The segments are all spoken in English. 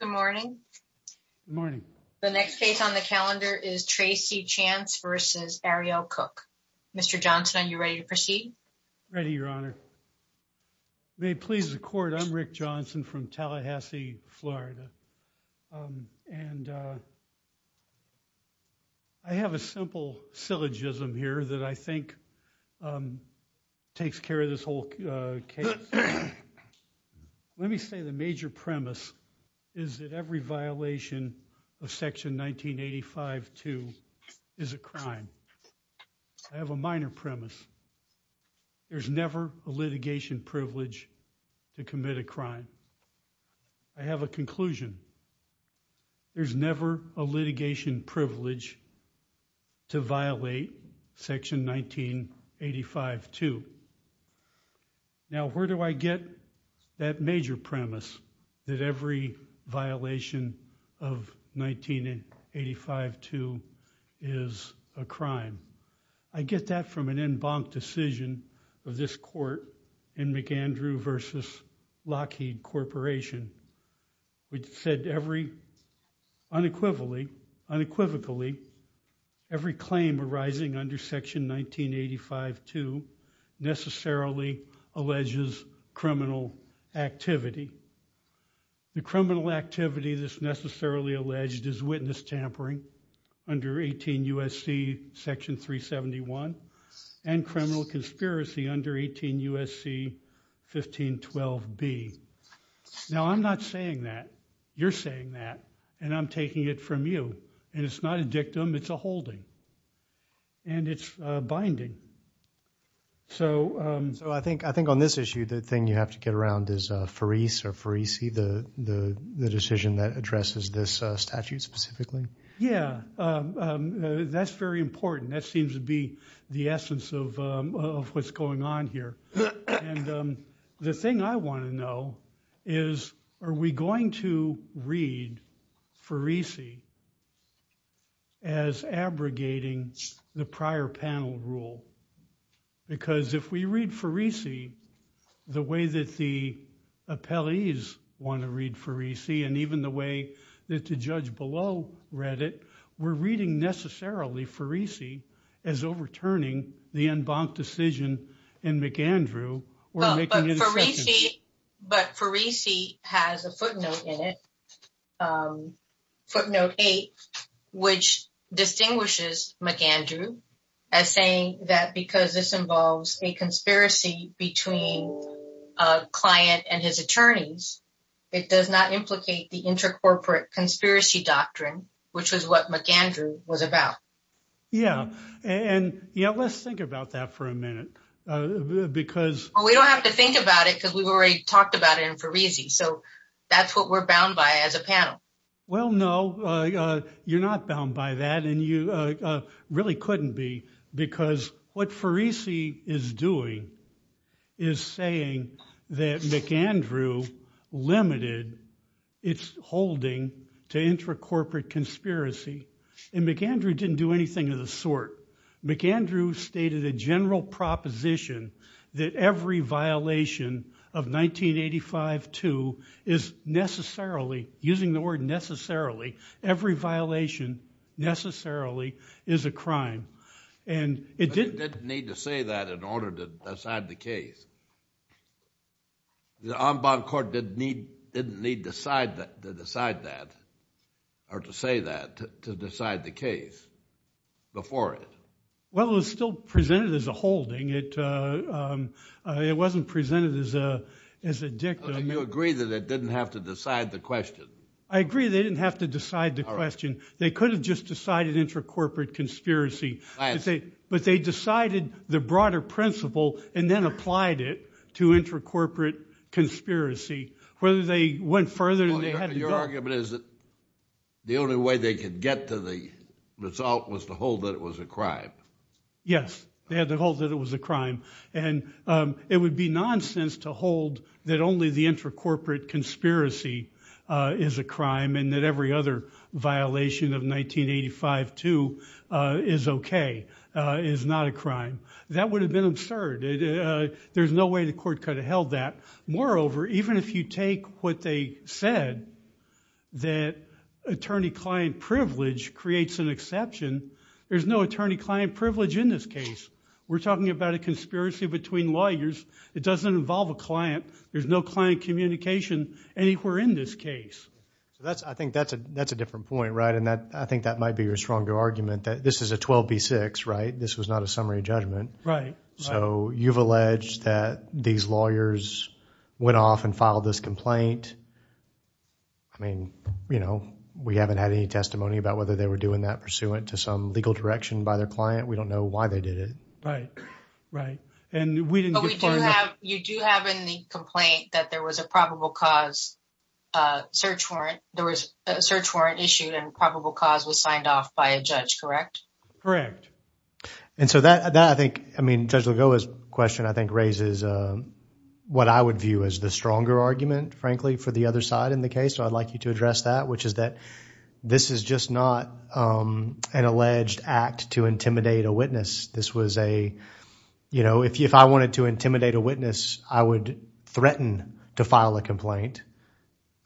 Good morning, morning. The next case on the calendar is Tracy chance versus Ariel cook. Mr. Johnson, are you ready to proceed? Ready? Your honor may please the court. I'm Rick Johnson from Tallahassee, Florida and I have a simple syllogism here that I think takes care of this whole case. Let me say the major premise is that every violation of section 1985-2 is a crime. I have a minor premise. There's never a litigation privilege to commit a crime. I have a conclusion. There's never a litigation privilege to violate section 1985-2. Now, where do I get that major premise that every violation of 1985-2 is a crime? I get that from an en banc decision of this court in McAndrew versus Lockheed corporation which said unequivocally every claim arising under section 1985-2 necessarily alleges criminal activity. The criminal activity that's necessarily alleged is witness tampering under 18 U.S.C. section 371 and criminal conspiracy under 18 U.S.C. 1512-B. Now, I'm not saying that. You're saying that and I'm taking it from you and it's not a dictum. It's a holding and it's binding. So, I think on this issue the thing you have to get around is Faris or Farisi, the decision that addresses this statute specifically. Yeah, that's very important. That seems to be the essence of what's going on here and the thing I want to know is are we going to read Farisi as abrogating the prior panel rule because if we read Farisi the way that the appellees want to read Farisi and even the way that the judge below read it, we're reading necessarily Farisi as overturning the en banc decision in McAndrew or making an exception. But Farisi has a footnote in it, footnote 8, which distinguishes McAndrew as saying that because this involves a conspiracy between a client and his attorneys, it does not implicate the intercorporate conspiracy doctrine, which was what McAndrew was about. Yeah, and yeah, let's think about that for a minute because... Well, we don't have to think about it because we've already talked about it in Farisi, so that's what we're bound by as a panel. Well, no, you're not bound by that and you really couldn't be because what Farisi is doing is saying that McAndrew limited its holding to intercorporate conspiracy and McAndrew didn't do anything of the sort. McAndrew stated a general proposition that every violation of 1985-2 is necessarily, using the word necessarily, every violation necessarily is a crime and it didn't... To decide that or to say that, to decide the case before it. Well, it was still presented as a holding. It wasn't presented as a dictum. Do you agree that it didn't have to decide the question? I agree they didn't have to decide the question. They could have just decided intercorporate conspiracy, but they decided the broader principle and then applied it intercorporate conspiracy. Whether they went further than they had... Your argument is that the only way they could get to the result was to hold that it was a crime. Yes, they had to hold that it was a crime and it would be nonsense to hold that only the intercorporate conspiracy is a crime and that every other violation of 1985-2 is okay, is not a crime. That would have been absurd. There's no way the court could have held that. Moreover, even if you take what they said that attorney-client privilege creates an exception, there's no attorney-client privilege in this case. We're talking about a conspiracy between lawyers. It doesn't involve a client. There's no client communication anywhere in this case. I think that's a different point, right? And I think that might be your stronger argument that this is a 12B6, right? This was not a summary judgment. So you've alleged that these lawyers went off and filed this complaint. I mean, we haven't had any testimony about whether they were doing that pursuant to some legal direction by their client. We don't know why they did it. Right, right. And we didn't get far enough... You do have in the complaint that there was a probable cause search warrant. There was a search warrant issued and probable cause was signed off by a judge, correct? Correct. And so that, I think, I mean, Judge Lagoa's question I think raises what I would view as the stronger argument, frankly, for the other side in the case. So I'd like you to address that, which is that this is just not an alleged act to intimidate a witness. This was a, you know, if I wanted to intimidate a witness, I would threaten to file a complaint.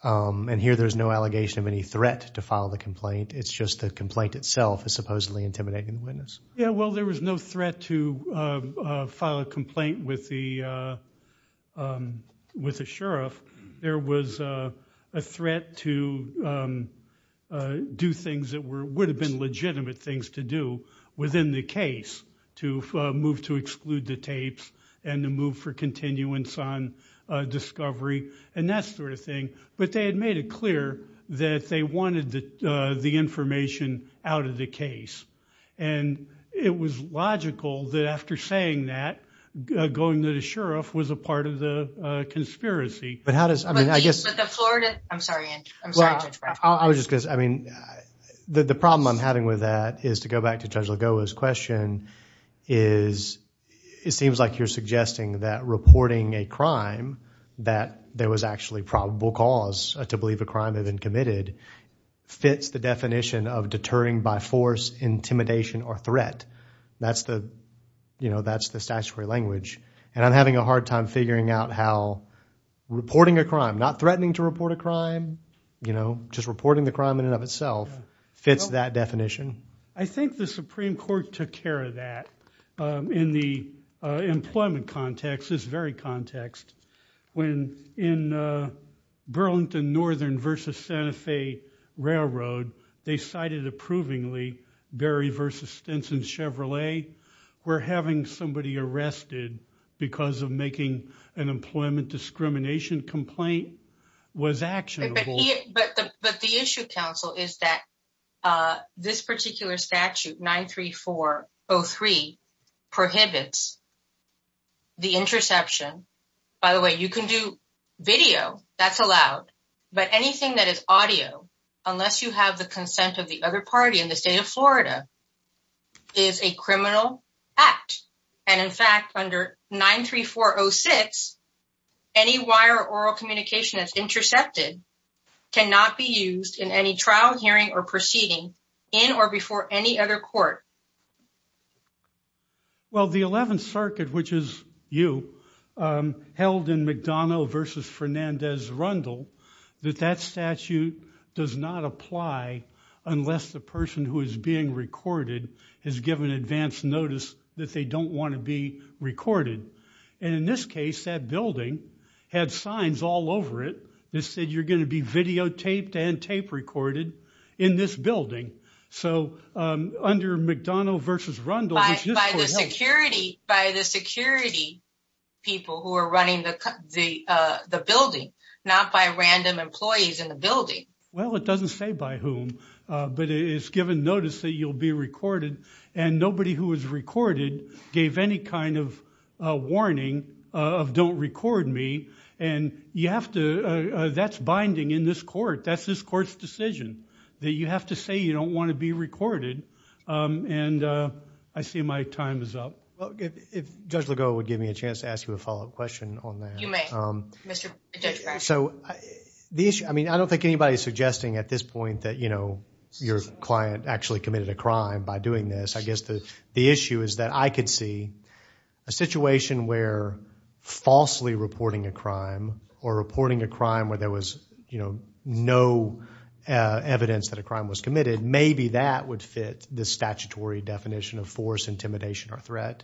And here there's no allegation of any threat to file the complaint. It's just the complaint itself is supposedly intimidating the witness. Yeah, well, there was no threat to file a complaint with a sheriff. There was a threat to do things that would have been legitimate things to do within the case, to move to exclude the tapes and to move for continuance on discovery and that sort of thing. But they had made it clear that they wanted the information out of the case. And it was logical that after saying that, going to the sheriff was a part of the conspiracy. But how does, I mean, I guess, but the Florida, I'm sorry, I'm sorry, I was just because, I mean, the problem I'm having with that is to go back to Judge Lagoa's question is, it seems like you're suggesting that reporting a crime that there was actually probable cause to believe a crime had been committed fits the definition of deterring by force, intimidation or threat. That's the, you know, that's the statutory language. And I'm having a hard time figuring out how reporting a crime, not threatening to report a crime, you know, just reporting the crime in and of itself fits that definition. I think the Supreme Court took care of that in the employment context. This very context, when in Burlington Northern versus Santa Fe Railroad, they cited approvingly Berry versus Stinson Chevrolet, where having somebody arrested because of making an employment discrimination complaint was actionable. But the issue, counsel, is that this particular statute, 934-03, prohibits the interception. By the way, you can do video, that's allowed, but anything that is audio, unless you have the consent of the other party in the state of Florida, is a criminal act. And in fact, under 934-06, any wire or oral communication that's intercepted cannot be used in any trial hearing or proceeding in or before any other court. Well, the 11th Circuit, which is you, held in McDonough versus Fernandez-Rundle, that that statute does not apply unless the person who is being recorded has given advance notice that they don't want to be recorded. And in this case, that building had signs all over it that you're going to be videotaped and tape recorded in this building. So under McDonough versus Rundle... By the security people who are running the building, not by random employees in the building. Well, it doesn't say by whom, but it's given notice that you'll be recorded and nobody who is recorded gave any kind of warning of, don't record me. And you have to, that's binding in this court. That's this court's decision that you have to say you don't want to be recorded. And I see my time is up. Well, if Judge Legault would give me a chance to ask you a follow-up question on that. You may, Mr. Judge Bradshaw. So the issue, I mean, I don't think anybody's suggesting at this point that, you know, your client actually committed a crime by doing this. The issue is that I could see a situation where falsely reporting a crime or reporting a crime where there was no evidence that a crime was committed, maybe that would fit the statutory definition of force, intimidation, or threat.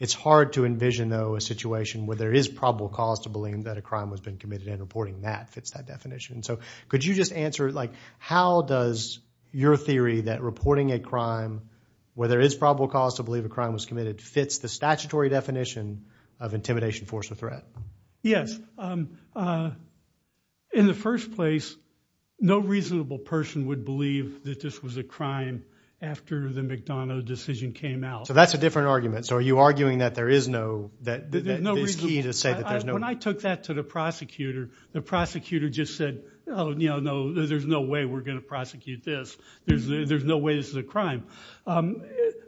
It's hard to envision though a situation where there is probable cause to believe that a crime has been committed and reporting that fits that there is probable cause to believe a crime was committed fits the statutory definition of intimidation, force, or threat. Yes. In the first place, no reasonable person would believe that this was a crime after the McDonough decision came out. So that's a different argument. So are you arguing that there is no, that is key to say that there's no. When I took that to the prosecutor, the prosecutor just said, oh, you know, no, there's no way we're going to prosecute this. There's no way this is a crime.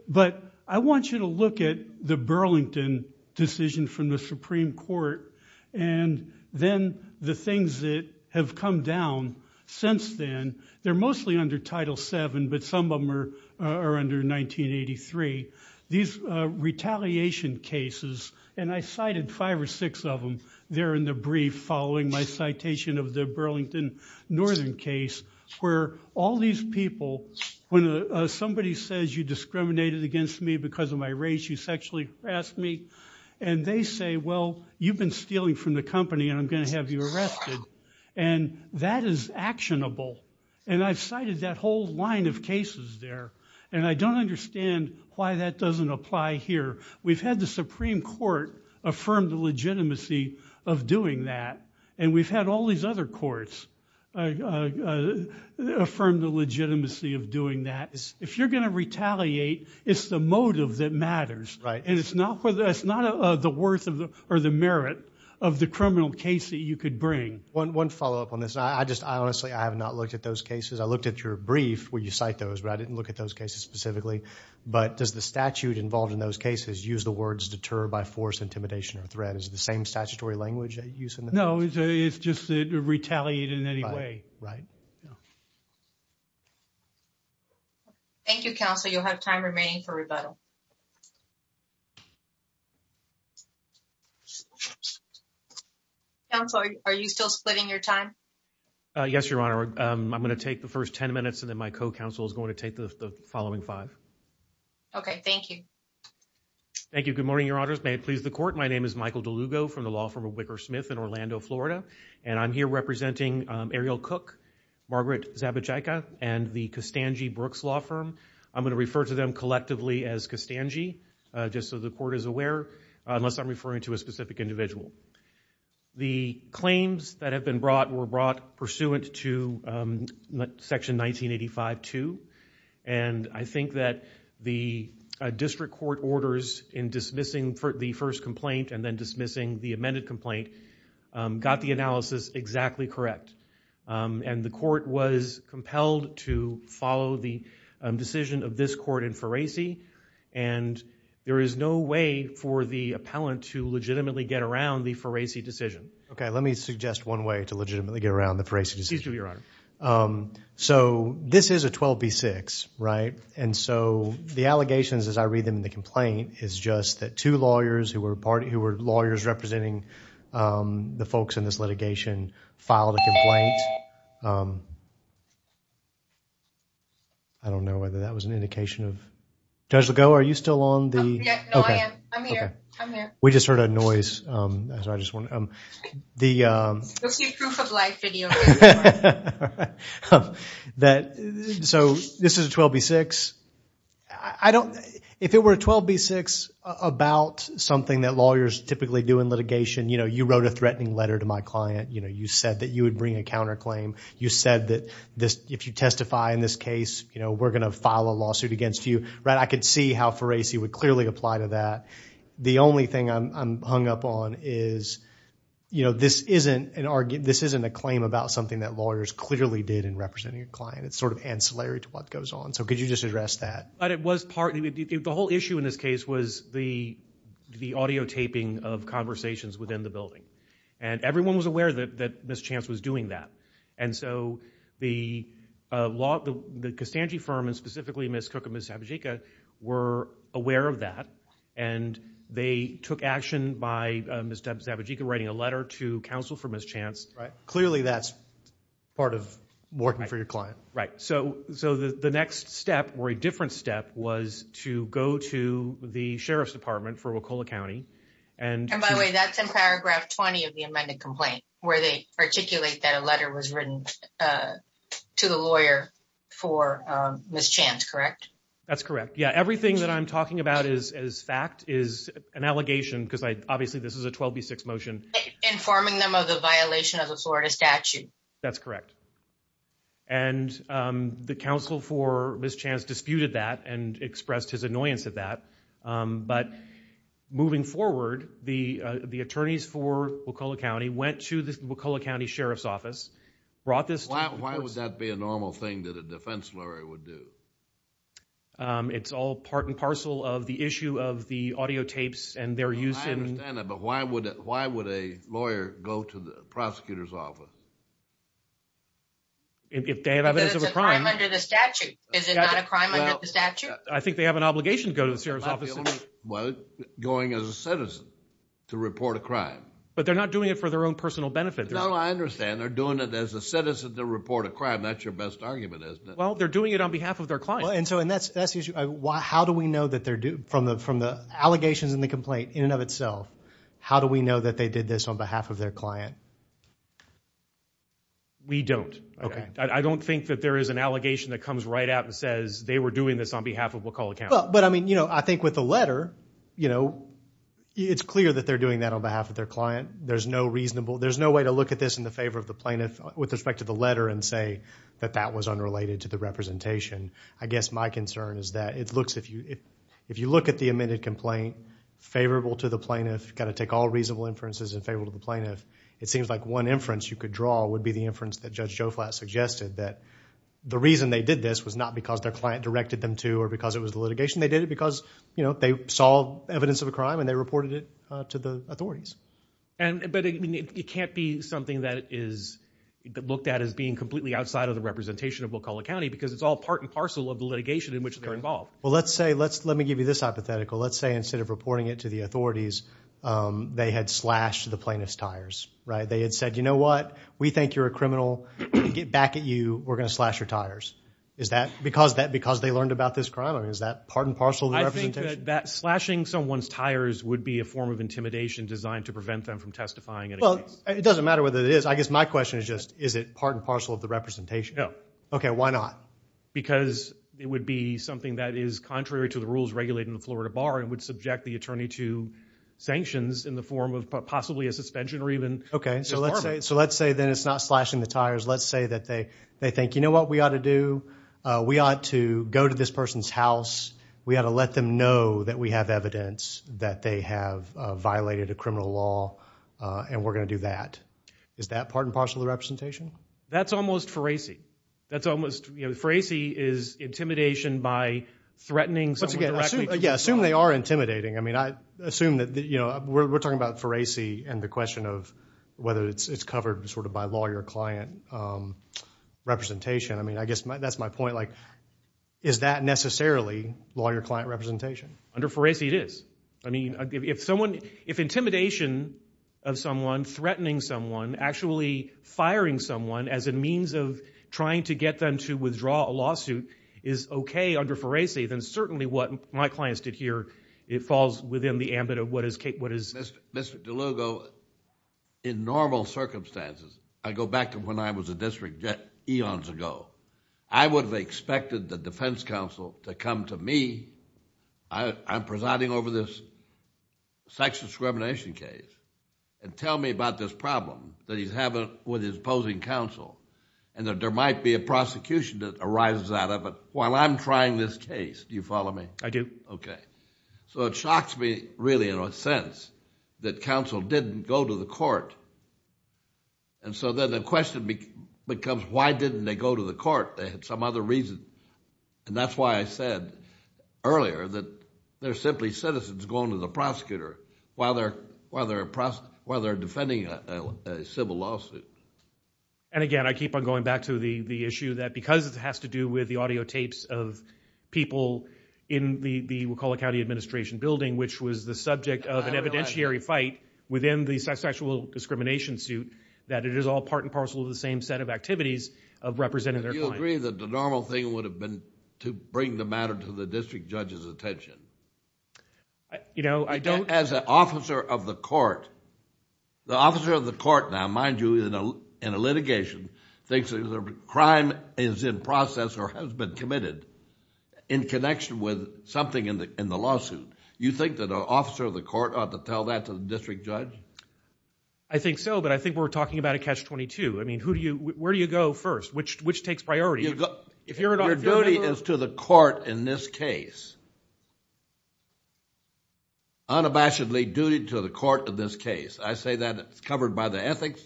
But I want you to look at the Burlington decision from the Supreme Court. And then the things that have come down since then, they're mostly under Title VII, but some of them are under 1983. These retaliation cases, and I cited five or six of them there in a brief following my citation of the Burlington Northern case, where all these people, when somebody says you discriminated against me because of my race, you sexually harassed me. And they say, well, you've been stealing from the company, and I'm going to have you arrested. And that is actionable. And I've cited that whole line of cases there. And I don't understand why that doesn't apply here. We've had the Supreme Court affirm the legitimacy of doing that. And we've had all these other courts affirm the legitimacy of doing that. If you're going to retaliate, it's the motive that matters. And it's not the worth or the merit of the criminal case that you could bring. One follow-up on this. I just, honestly, I have not looked at those cases. I looked at your brief where you cite those, but I didn't look at those cases specifically. But does the statute involved in those cases use the words deter by force, intimidation, or threat? Is it the same statutory language? No, it's just to retaliate in any way. Thank you, counsel. You'll have time remaining for rebuttal. Counsel, are you still splitting your time? Yes, Your Honor. I'm going to take the first five. Okay. Thank you. Thank you. Good morning, Your Honors. May it please the court. My name is Michael DeLugo from the law firm of Wicker Smith in Orlando, Florida. And I'm here representing Ariel Cook, Margaret Zabiceka, and the Costangi-Brooks law firm. I'm going to refer to them collectively as Costangi, just so the court is aware, unless I'm referring to a specific individual. The claims that have been brought were brought pursuant to Section 1985-2. And I think that the district court orders in dismissing the first complaint and then dismissing the amended complaint got the analysis exactly correct. And the court was compelled to follow the decision of this court in Ferasi. And there is no way for the appellant to legitimately get around the Ferasi decision. Okay, let me suggest one way to legitimately get around the Ferasi decision. So, this is a 12-B-6, right? And so, the allegations as I read them in the complaint is just that two lawyers who were lawyers representing the folks in this litigation filed a complaint. I don't know whether that was an indication of... Judge DeLugo, are you still on the... No, I am. I'm here. I'm here. We just heard a noise. So, this is a 12-B-6. If it were a 12-B-6 about something that lawyers typically do in litigation, you wrote a threatening letter to my client. You said that you would bring a counterclaim. You said that if you testify in this case, we're going to file a lawsuit against you. I could see how Ferasi would clearly apply to that. The only thing I'm hung up on is, you know, this isn't a claim about something that lawyers clearly did in representing a client. It's sort of ancillary to what goes on. So, could you just address that? But it was part... The whole issue in this case was the audio taping of conversations within the building. And everyone was aware that Ms. Chance was doing that. And so, the were aware of that. And they took action by Ms. Zabajika writing a letter to counsel for Ms. Chance. Right. Clearly, that's part of working for your client. Right. So, the next step, or a different step, was to go to the Sheriff's Department for Wacola County and... And by the way, that's in paragraph 20 of the amended complaint, where they articulate that a letter was written to the lawyer for Ms. Chance, correct? That's correct. Yeah. Everything that I'm talking about is fact, is an allegation, because obviously this is a 12b6 motion. Informing them of the violation of the Florida statute. That's correct. And the counsel for Ms. Chance disputed that and expressed his annoyance at that. But moving forward, the brought this... Why would that be a normal thing that a defense lawyer would do? It's all part and parcel of the issue of the audio tapes and their use in... I understand that. But why would a lawyer go to the prosecutor's office? If they have evidence of a crime... But it's a crime under the statute. Is it not a crime under the statute? I think they have an obligation to go to the Sheriff's office. Well, going as a citizen to report a crime. But they're not doing it for their personal benefit. No, I understand. They're doing it as a citizen to report a crime. That's your best argument, isn't it? Well, they're doing it on behalf of their client. And so, and that's the issue. How do we know that they're... From the allegations in the complaint in and of itself, how do we know that they did this on behalf of their client? We don't. I don't think that there is an allegation that comes right out and says, they were doing this on behalf of Wakulla County. But I mean, I think with the letter, you know, it's clear that they're doing that on behalf of their client. There's no reasonable, there's no way to look at this in the favor of the plaintiff with respect to the letter and say that that was unrelated to the representation. I guess my concern is that it looks, if you look at the amended complaint favorable to the plaintiff, got to take all reasonable inferences in favor of the plaintiff. It seems like one inference you could draw would be the inference that Judge Joflat suggested that the reason they did this was not because their client directed them to or because it was the litigation. They did it because, you know, they saw evidence of a crime and they reported it to the authorities. And, but it can't be something that is looked at as being completely outside of the representation of Wakulla County because it's all part and parcel of the litigation in which they're involved. Well, let's say, let's, let me give you this hypothetical. Let's say instead of reporting it to the authorities, they had slashed the plaintiff's tires, right? They had said, you know what? We think you're a criminal. Get back at you. We're going to slash your tires. Is that because they learned about this crime or is that part and parcel of the representation? I think that slashing someone's tires would be a form of intimidation designed to prevent them from testifying in a case. Well, it doesn't matter whether it is. I guess my question is just, is it part and parcel of the representation? No. Okay. Why not? Because it would be something that is contrary to the rules regulated in the Florida Bar and would subject the attorney to sanctions in the form of possibly a suspension or even... Okay. So let's say, so let's say then it's not slashing the tires. Let's say that they, they think, you know what we ought to do? We ought to go to this person's house. We ought to let them know that we have evidence that they have violated a criminal law, and we're going to do that. Is that part and parcel of the representation? That's almost foracy. That's almost, you know, foracy is intimidation by threatening someone directly. Yeah. Assume they are intimidating. I mean, I assume that, you know, we're talking about foracy and the question of whether it's covered sort of by lawyer-client representation. I mean, I guess that's my point. Like, is that necessarily lawyer-client representation? Under foracy, it is. I mean, if someone, if intimidation of someone, threatening someone, actually firing someone as a means of trying to get them to withdraw a lawsuit is okay under foracy, then certainly what my clients did here, it falls within the ambit of what is. Mr. DeLugo, in normal circumstances, I go back to when I was a district judge eons ago, I would have expected the defense counsel to come to me. I'm presiding over this sex discrimination case, and tell me about this problem that he's having with his opposing counsel, and that there might be a prosecution that arises out of it while I'm trying this case. Do you follow me? I do. Okay. So it shocks me, really, in a sense, that counsel didn't go to the court. And so then the question becomes, why didn't they go to the court? They had some other reason. And that's why I said earlier that they're simply citizens going to the prosecutor while they're defending a civil lawsuit. And again, I keep on going back to the issue that because it has to do with the audiotapes of people in the Wacolla County Administration building, which was the subject of an evidentiary fight within the sexual discrimination suit, that it is all part and parcel of the same set of activities of representing their clients. Do you agree that the normal thing would have been to bring the matter to the district judge's attention? As an officer of the court, the officer of the court now, mind you, in a litigation, thinks that a crime is in process or has been committed in connection with something in the lawsuit. You think that an officer of the court ought to tell that to the district judge? I think so, but I think we're talking about a catch-22. I mean, where do you go first? Which takes priority? Your duty is to the court in this case. Unabashedly duty to the court in this case. I say that it's covered by the ethics,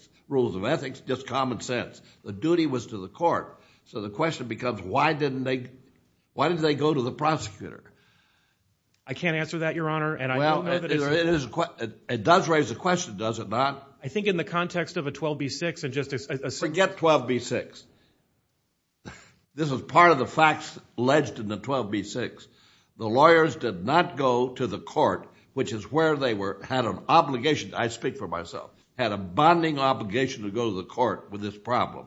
just common sense. The duty was to the court. So the question becomes, why didn't they go to the prosecutor? I can't answer that, Your Honor. Well, it does raise a question, does it not? I think in the context of a 12b-6 and just... Forget 12b-6. This is part of the facts alleged in the 12b-6. The lawyers did not go to the court, which is where they had an obligation, I speak for myself, had a bonding obligation to go to the court with this problem.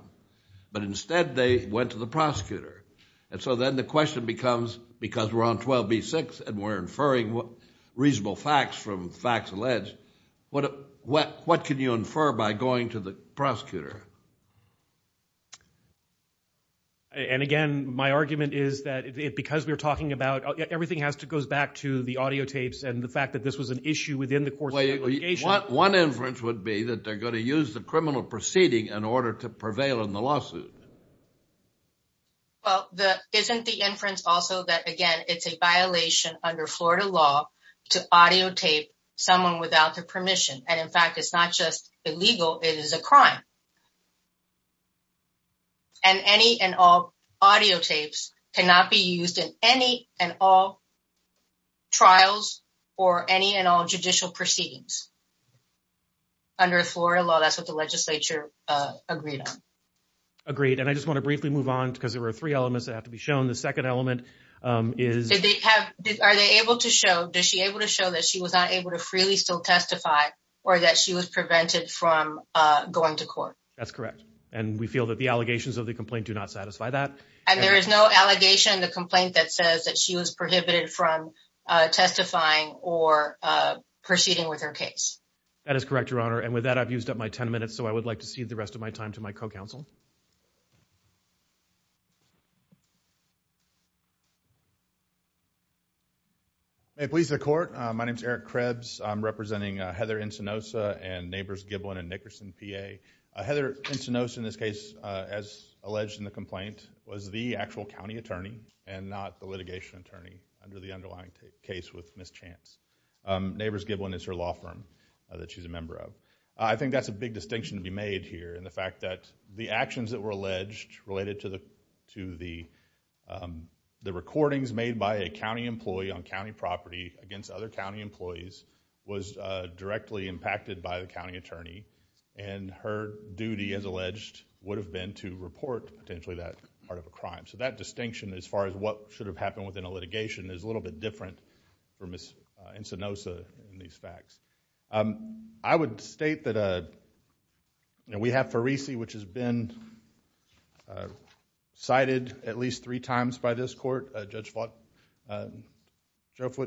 But instead, they went to the prosecutor. And so then the question becomes, because we're on 12b-6 and we're inferring reasonable facts from facts alleged, what can you infer by going to the prosecutor? And again, my argument is that because we're talking about... Everything goes back to the fact that this was an issue within the course of the litigation. One inference would be that they're going to use the criminal proceeding in order to prevail in the lawsuit. Well, isn't the inference also that, again, it's a violation under Florida law to audio tape someone without their permission. And in fact, it's not just illegal, it is a crime. And any and all audio tapes cannot be used in any and all trials or any and all judicial proceedings. Under Florida law, that's what the legislature agreed on. Agreed. And I just want to briefly move on, because there were three elements that have to be shown. The second element is... Are they able to show... Is she able to show that she was not able to freely still testify or that she was prevented from going to court? That's correct. And we feel that the allegations of the complaint do not satisfy that. And there is no allegation in the complaint that says that she was prohibited from testifying or proceeding with her case? That is correct, Your Honor. And with that, I've used up my 10 minutes, so I would like to cede the rest of my time to my co-counsel. May it please the Court. My name is Eric Krebs. I'm representing Heather Encinosa and Neighbors Giblin and Nickerson, PA. Heather Encinosa, in this case, as alleged in the complaint, was the actual county attorney and not the litigation attorney under the underlying case with Ms. Chance. Neighbors Giblin is her law firm that she's a member of. I think that's a big distinction to be made here in the fact that the actions that were alleged related to the recordings made by a county employee on county property against other county employees was directly impacted by the county attorney. And her duty, as alleged, would have been to report potentially that part of a crime. So that distinction, as far as what should have happened within a litigation, is a little bit different for Ms. Encinosa in these cases. I want to state that we have Farisi, which has been cited at least three times by this Court. Judge Fletcher,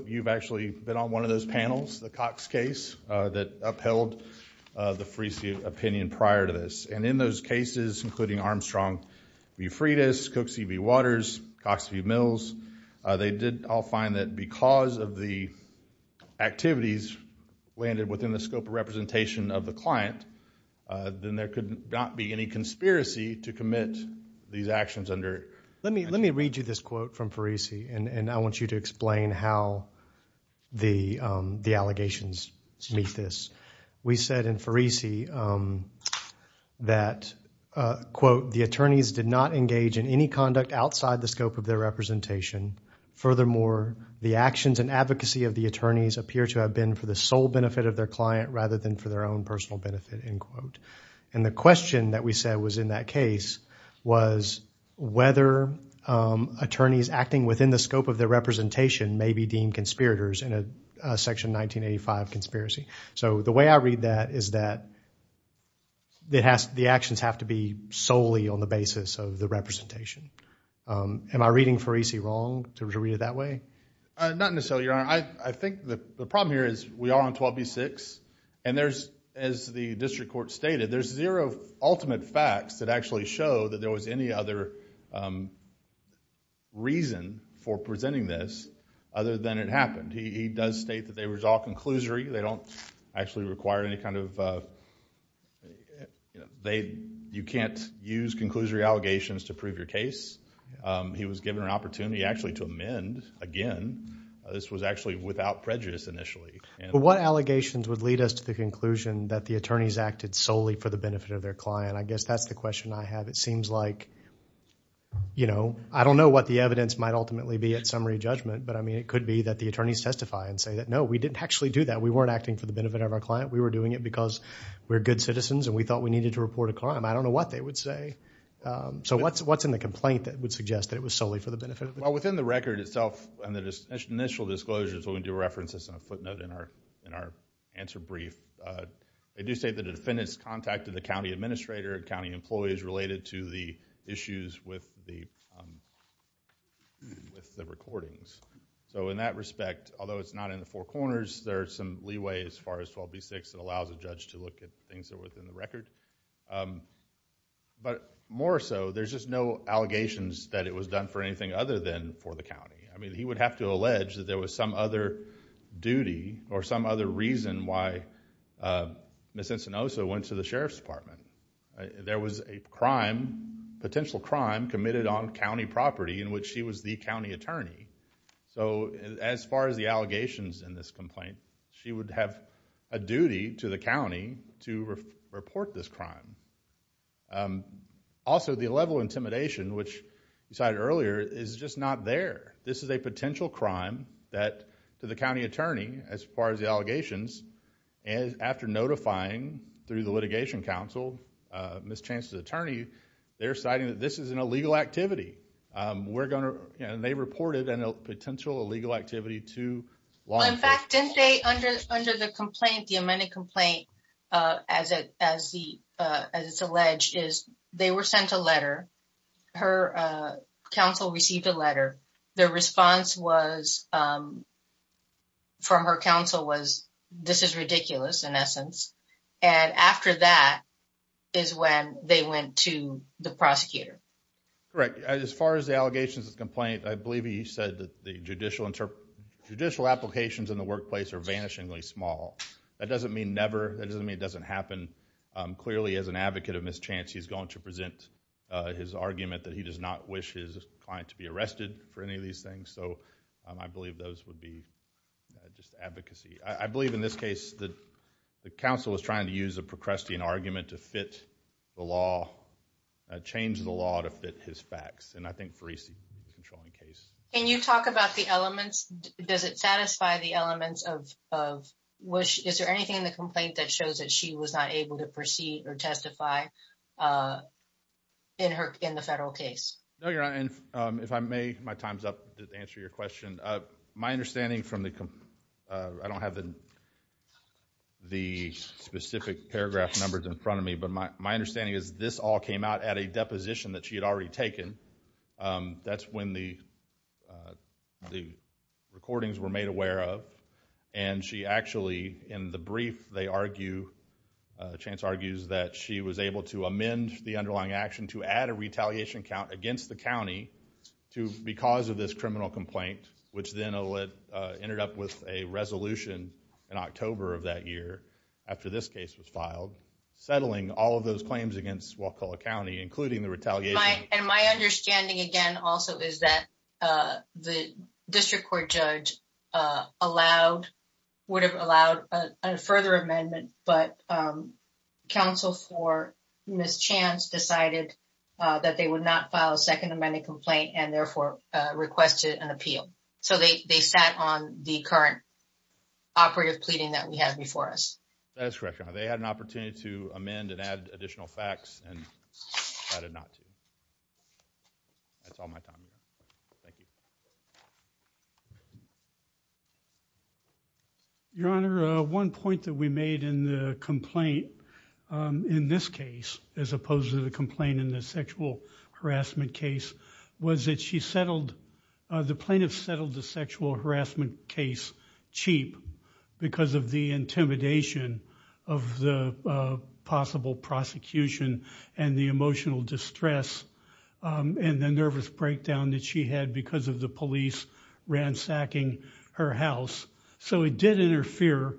you've actually been on one of those panels, the Cox case, that upheld the Farisi opinion prior to this. And in those cases, including Armstrong v. Freitas, Cook v. Waters, Cox v. Mills, they did all find that because of the activities landed within the scope of the client, then there could not be any conspiracy to commit these actions under. Let me read you this quote from Farisi, and I want you to explain how the allegations meet this. We said in Farisi that, quote, the attorneys did not engage in any conduct outside the scope of their representation. Furthermore, the actions and advocacy of the attorneys appear to have been for the sole benefit of their client rather than for their own personal benefit, end quote. And the question that we said was in that case was whether attorneys acting within the scope of their representation may be deemed conspirators in a Section 1985 conspiracy. So the way I read that is that the actions have to be solely on the basis of the representation. Am I reading Farisi wrong in terms of reading it that way? Not necessarily, Your Honor. I think the problem here is we are on 12b-6, and there's, as the district court stated, there's zero ultimate facts that actually show that there was any other reason for presenting this other than it happened. He does state that they were all conclusory. They don't actually require any kind of, you know, they, you can't use conclusory allegations to prove your case. He was given an opportunity actually to amend again. This was actually without prejudice initially. What allegations would lead us to the conclusion that the attorneys acted solely for the benefit of their client? I guess that's the question I have. It seems like, you know, I don't know what the evidence might ultimately be at summary judgment, but I mean, it could be that the attorneys testify and say that, no, we didn't actually do that. We weren't acting for the citizens, and we thought we needed to report a crime. I don't know what they would say. So what's in the complaint that would suggest that it was solely for the benefit of the client? Well, within the record itself and the initial disclosures, we'll do references and a footnote in our answer brief, they do state that the defendants contacted the county administrator and county employees related to the issues with the recordings. So in that respect, although it's not in the four corners, there's some leeway as far as 12b-6 that allows a judge to look at things that are within the record. But more so, there's just no allegations that it was done for anything other than for the county. I mean, he would have to allege that there was some other duty or some other reason why Ms. Encinosa went to the Sheriff's Department. There was a crime, potential crime, committed on county property in which she was the county to report this crime. Also, the level of intimidation, which you cited earlier, is just not there. This is a potential crime that to the county attorney, as far as the allegations, and after notifying through the Litigation Council, Ms. Encinosa's attorney, they're citing that this is an illegal activity. We're going to, you know, they reported a potential illegal activity to law enforcement. In fact, didn't they under the complaint, the amended complaint, as it's alleged, is they were sent a letter. Her counsel received a letter. Their response from her counsel was, this is ridiculous, in essence. And after that is when they went to the prosecutor. Correct. As far as the allegations of the complaint, I believe he said that the judicial applications in the workplace are vanishingly small. That doesn't mean never. That doesn't mean it doesn't happen. Clearly, as an advocate of mischance, he's going to present his argument that he does not wish his client to be arrested for any of these things. So, I believe those would be just advocacy. I believe in this case that the counsel was trying to use a procrastinating argument to fit the law, change the law to fit his facts. And I think Farisi is the controlling case. Can you talk about the elements? Does it satisfy the elements of, is there anything in the complaint that shows that she was not able to proceed or testify in the federal case? No, Your Honor. And if I may, my time's up to answer your question. My understanding from the, I don't have the specific paragraph numbers in front of me, but my understanding is this all came out at a deposition that she had already taken. That's when the recordings were made aware of. And she actually, in the brief, they argue, Chance argues that she was able to amend the underlying action to add a retaliation count against the county to, because of this criminal complaint, which then ended up with a resolution in October of that year after this case was filed, settling all of those claims against Walcola County, including the retaliation. And my understanding again also is that the district court judge allowed, would have allowed a further amendment, but counsel for Ms. Chance decided that they would not file a second amendment complaint and therefore requested an appeal. So they sat on the current operative pleading that we have before us. That is correct, Your Honor. They had an opportunity to amend and add additional facts and decided not to. That's all my time. Thank you. Your Honor, one point that we made in the complaint in this case, as opposed to the complaint in the sexual harassment case, was that she settled, the plaintiff settled the sexual intimidation of the possible prosecution and the emotional distress and the nervous breakdown that she had because of the police ransacking her house. So it did interfere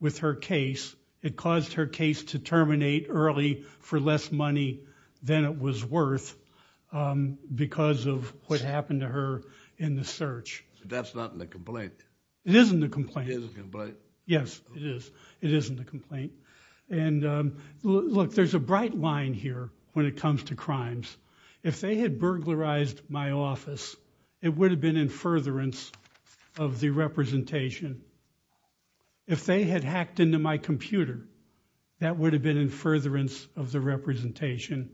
with her case. It caused her case to terminate early for less money than it was worth because of what happened to her in the search. That's not in the complaint. It is in the complaint. It is in the complaint. Yes, it is. It is in the complaint. And look, there's a bright line here when it comes to crimes. If they had burglarized my office, it would have been in furtherance of the representation. If they had hacked into my computer, that would have been in furtherance of the representation.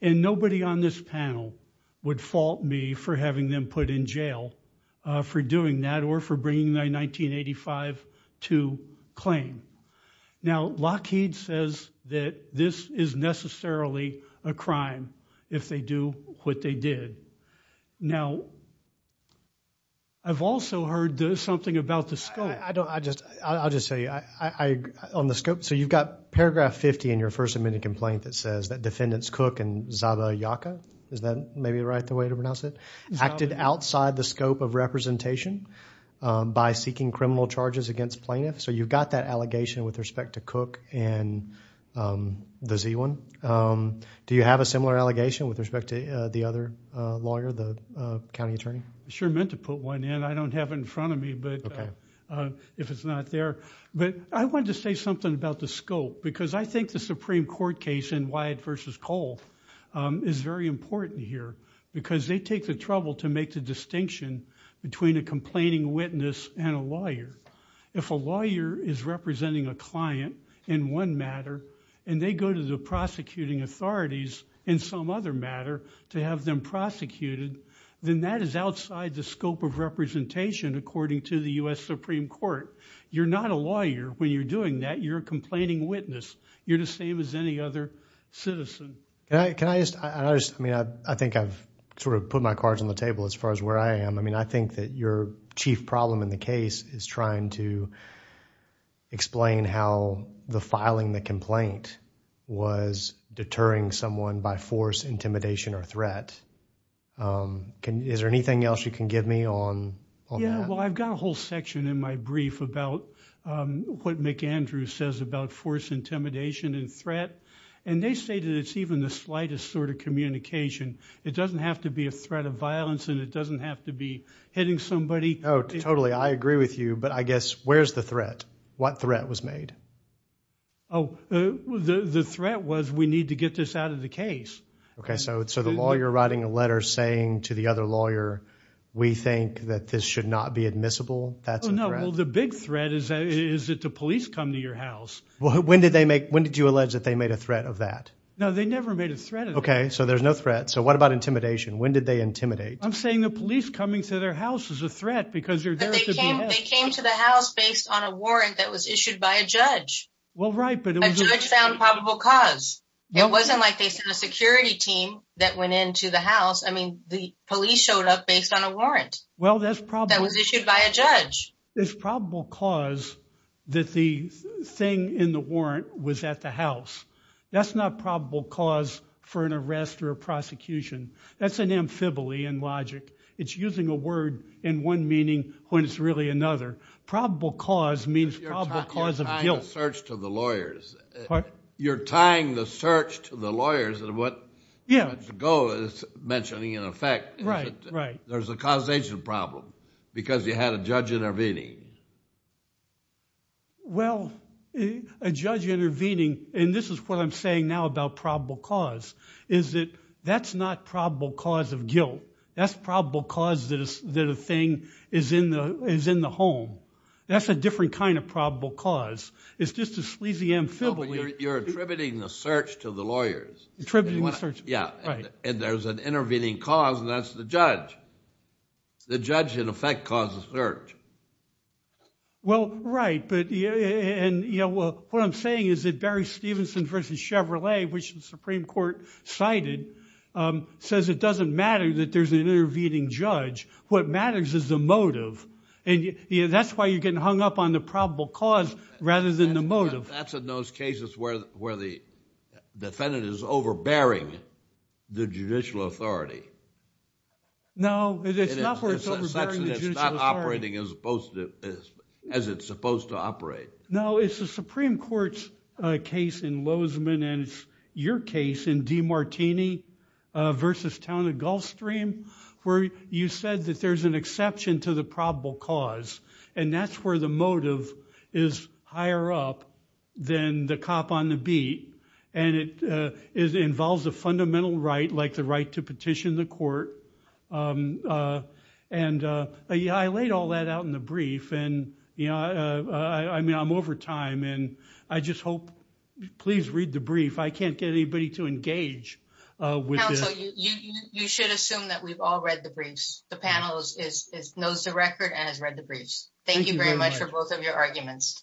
And nobody on this panel would fault me for having them put in jail for doing that or for bringing in 1985 to claim. Now, Lockheed says that this is necessarily a crime if they do what they did. Now, I've also heard something about the scope. I don't, I just, I'll just tell you. I, I, on the scope, so you've got paragraph 50 in your first amendment complaint that says that defendants Cook and Zabayaka, is that maybe right the way to pronounce it, acted outside the scope of representation by seeking criminal charges against plaintiffs? So you've got that allegation with respect to Cook and the Z one. Do you have a similar allegation with respect to the other lawyer, the county attorney? Sure meant to put one in. I don't have it in front of me, but if it's not there, but I wanted to say something about the scope, because I think the Supreme Court case in Wyatt versus Cole is very important here because they take the trouble to make the difference between a complaining witness and a lawyer. If a lawyer is representing a client in one matter and they go to the prosecuting authorities in some other matter to have them prosecuted, then that is outside the scope of representation according to the U.S. Supreme Court. You're not a lawyer when you're doing that. You're a complaining witness. You're the same as any other citizen. Can I, can I just, I just, I mean, I, I think I've sort of put my cards on the table as far as where I am. I mean, I think that your chief problem in the case is trying to explain how the filing the complaint was deterring someone by force intimidation or threat. Is there anything else you can give me on that? Well, I've got a whole section in my brief about what McAndrew says about force intimidation and threat, and they say that it's even the have to be hitting somebody. Oh, totally. I agree with you, but I guess where's the threat? What threat was made? Oh, the, the threat was we need to get this out of the case. Okay. So, so the law, you're writing a letter saying to the other lawyer, we think that this should not be admissible. That's the big threat. Is that, is it the police come to your house? When did they make, when did you allege that they made a threat of that? No, they never made a threat. Okay. So there's no threat. So what about intimidation? When did they intimidate? I'm saying the police coming to their house is a threat because you're there. They came to the house based on a warrant that was issued by a judge. Well, right. But a judge found probable cause. It wasn't like they sent a security team that went into the house. I mean, the police showed up based on a warrant. Well, that's probably. That was issued by a judge. There's probable cause that the thing in the warrant was at the house. That's not probable cause for an arrest or a prosecution. That's an amphibole in logic. It's using a word in one meaning when it's really another. Probable cause means probable cause of guilt. But you're tying the search to the lawyers. You're tying the search to the lawyers and what Judge Goh is mentioning in effect. Right, right. There's a causation problem because you had a judge intervening. Well, a judge intervening, and this is what I'm saying now about probable cause, is that that's not probable cause of guilt. That's probable cause that a thing is in the home. That's a different kind of probable cause. It's just a sleazy amphibole. You're attributing the search to the lawyers. Attributing the search. Yeah, and there's an intervening cause and that's the judge. The judge in effect causes the search. Well, right. What I'm saying is that Barry Stevenson versus Chevrolet, which the Supreme Court cited, says it doesn't matter that there's an intervening judge. What matters is the motive. That's why you're getting hung up on the probable cause rather than the motive. That's in those cases where the defendant is overbearing the judicial authority. No, it's not where it's overbearing the judicial authority. In the sense that it's not operating as it's supposed to operate. No, it's the Supreme Court's case in Lozeman and it's your case in DiMartini versus Town and Gulfstream where you said that there's an exception to the probable cause and that's where the motive is higher up than the cop on the beat. It involves a fundamental right like the right to petition the court. I laid all that out in the brief and I'm over time and I just hope, please read the brief. I can't get anybody to engage with this. Counsel, you should assume that we've all read the briefs. The panel knows the record and has read the briefs. Thank you very much for both of your arguments.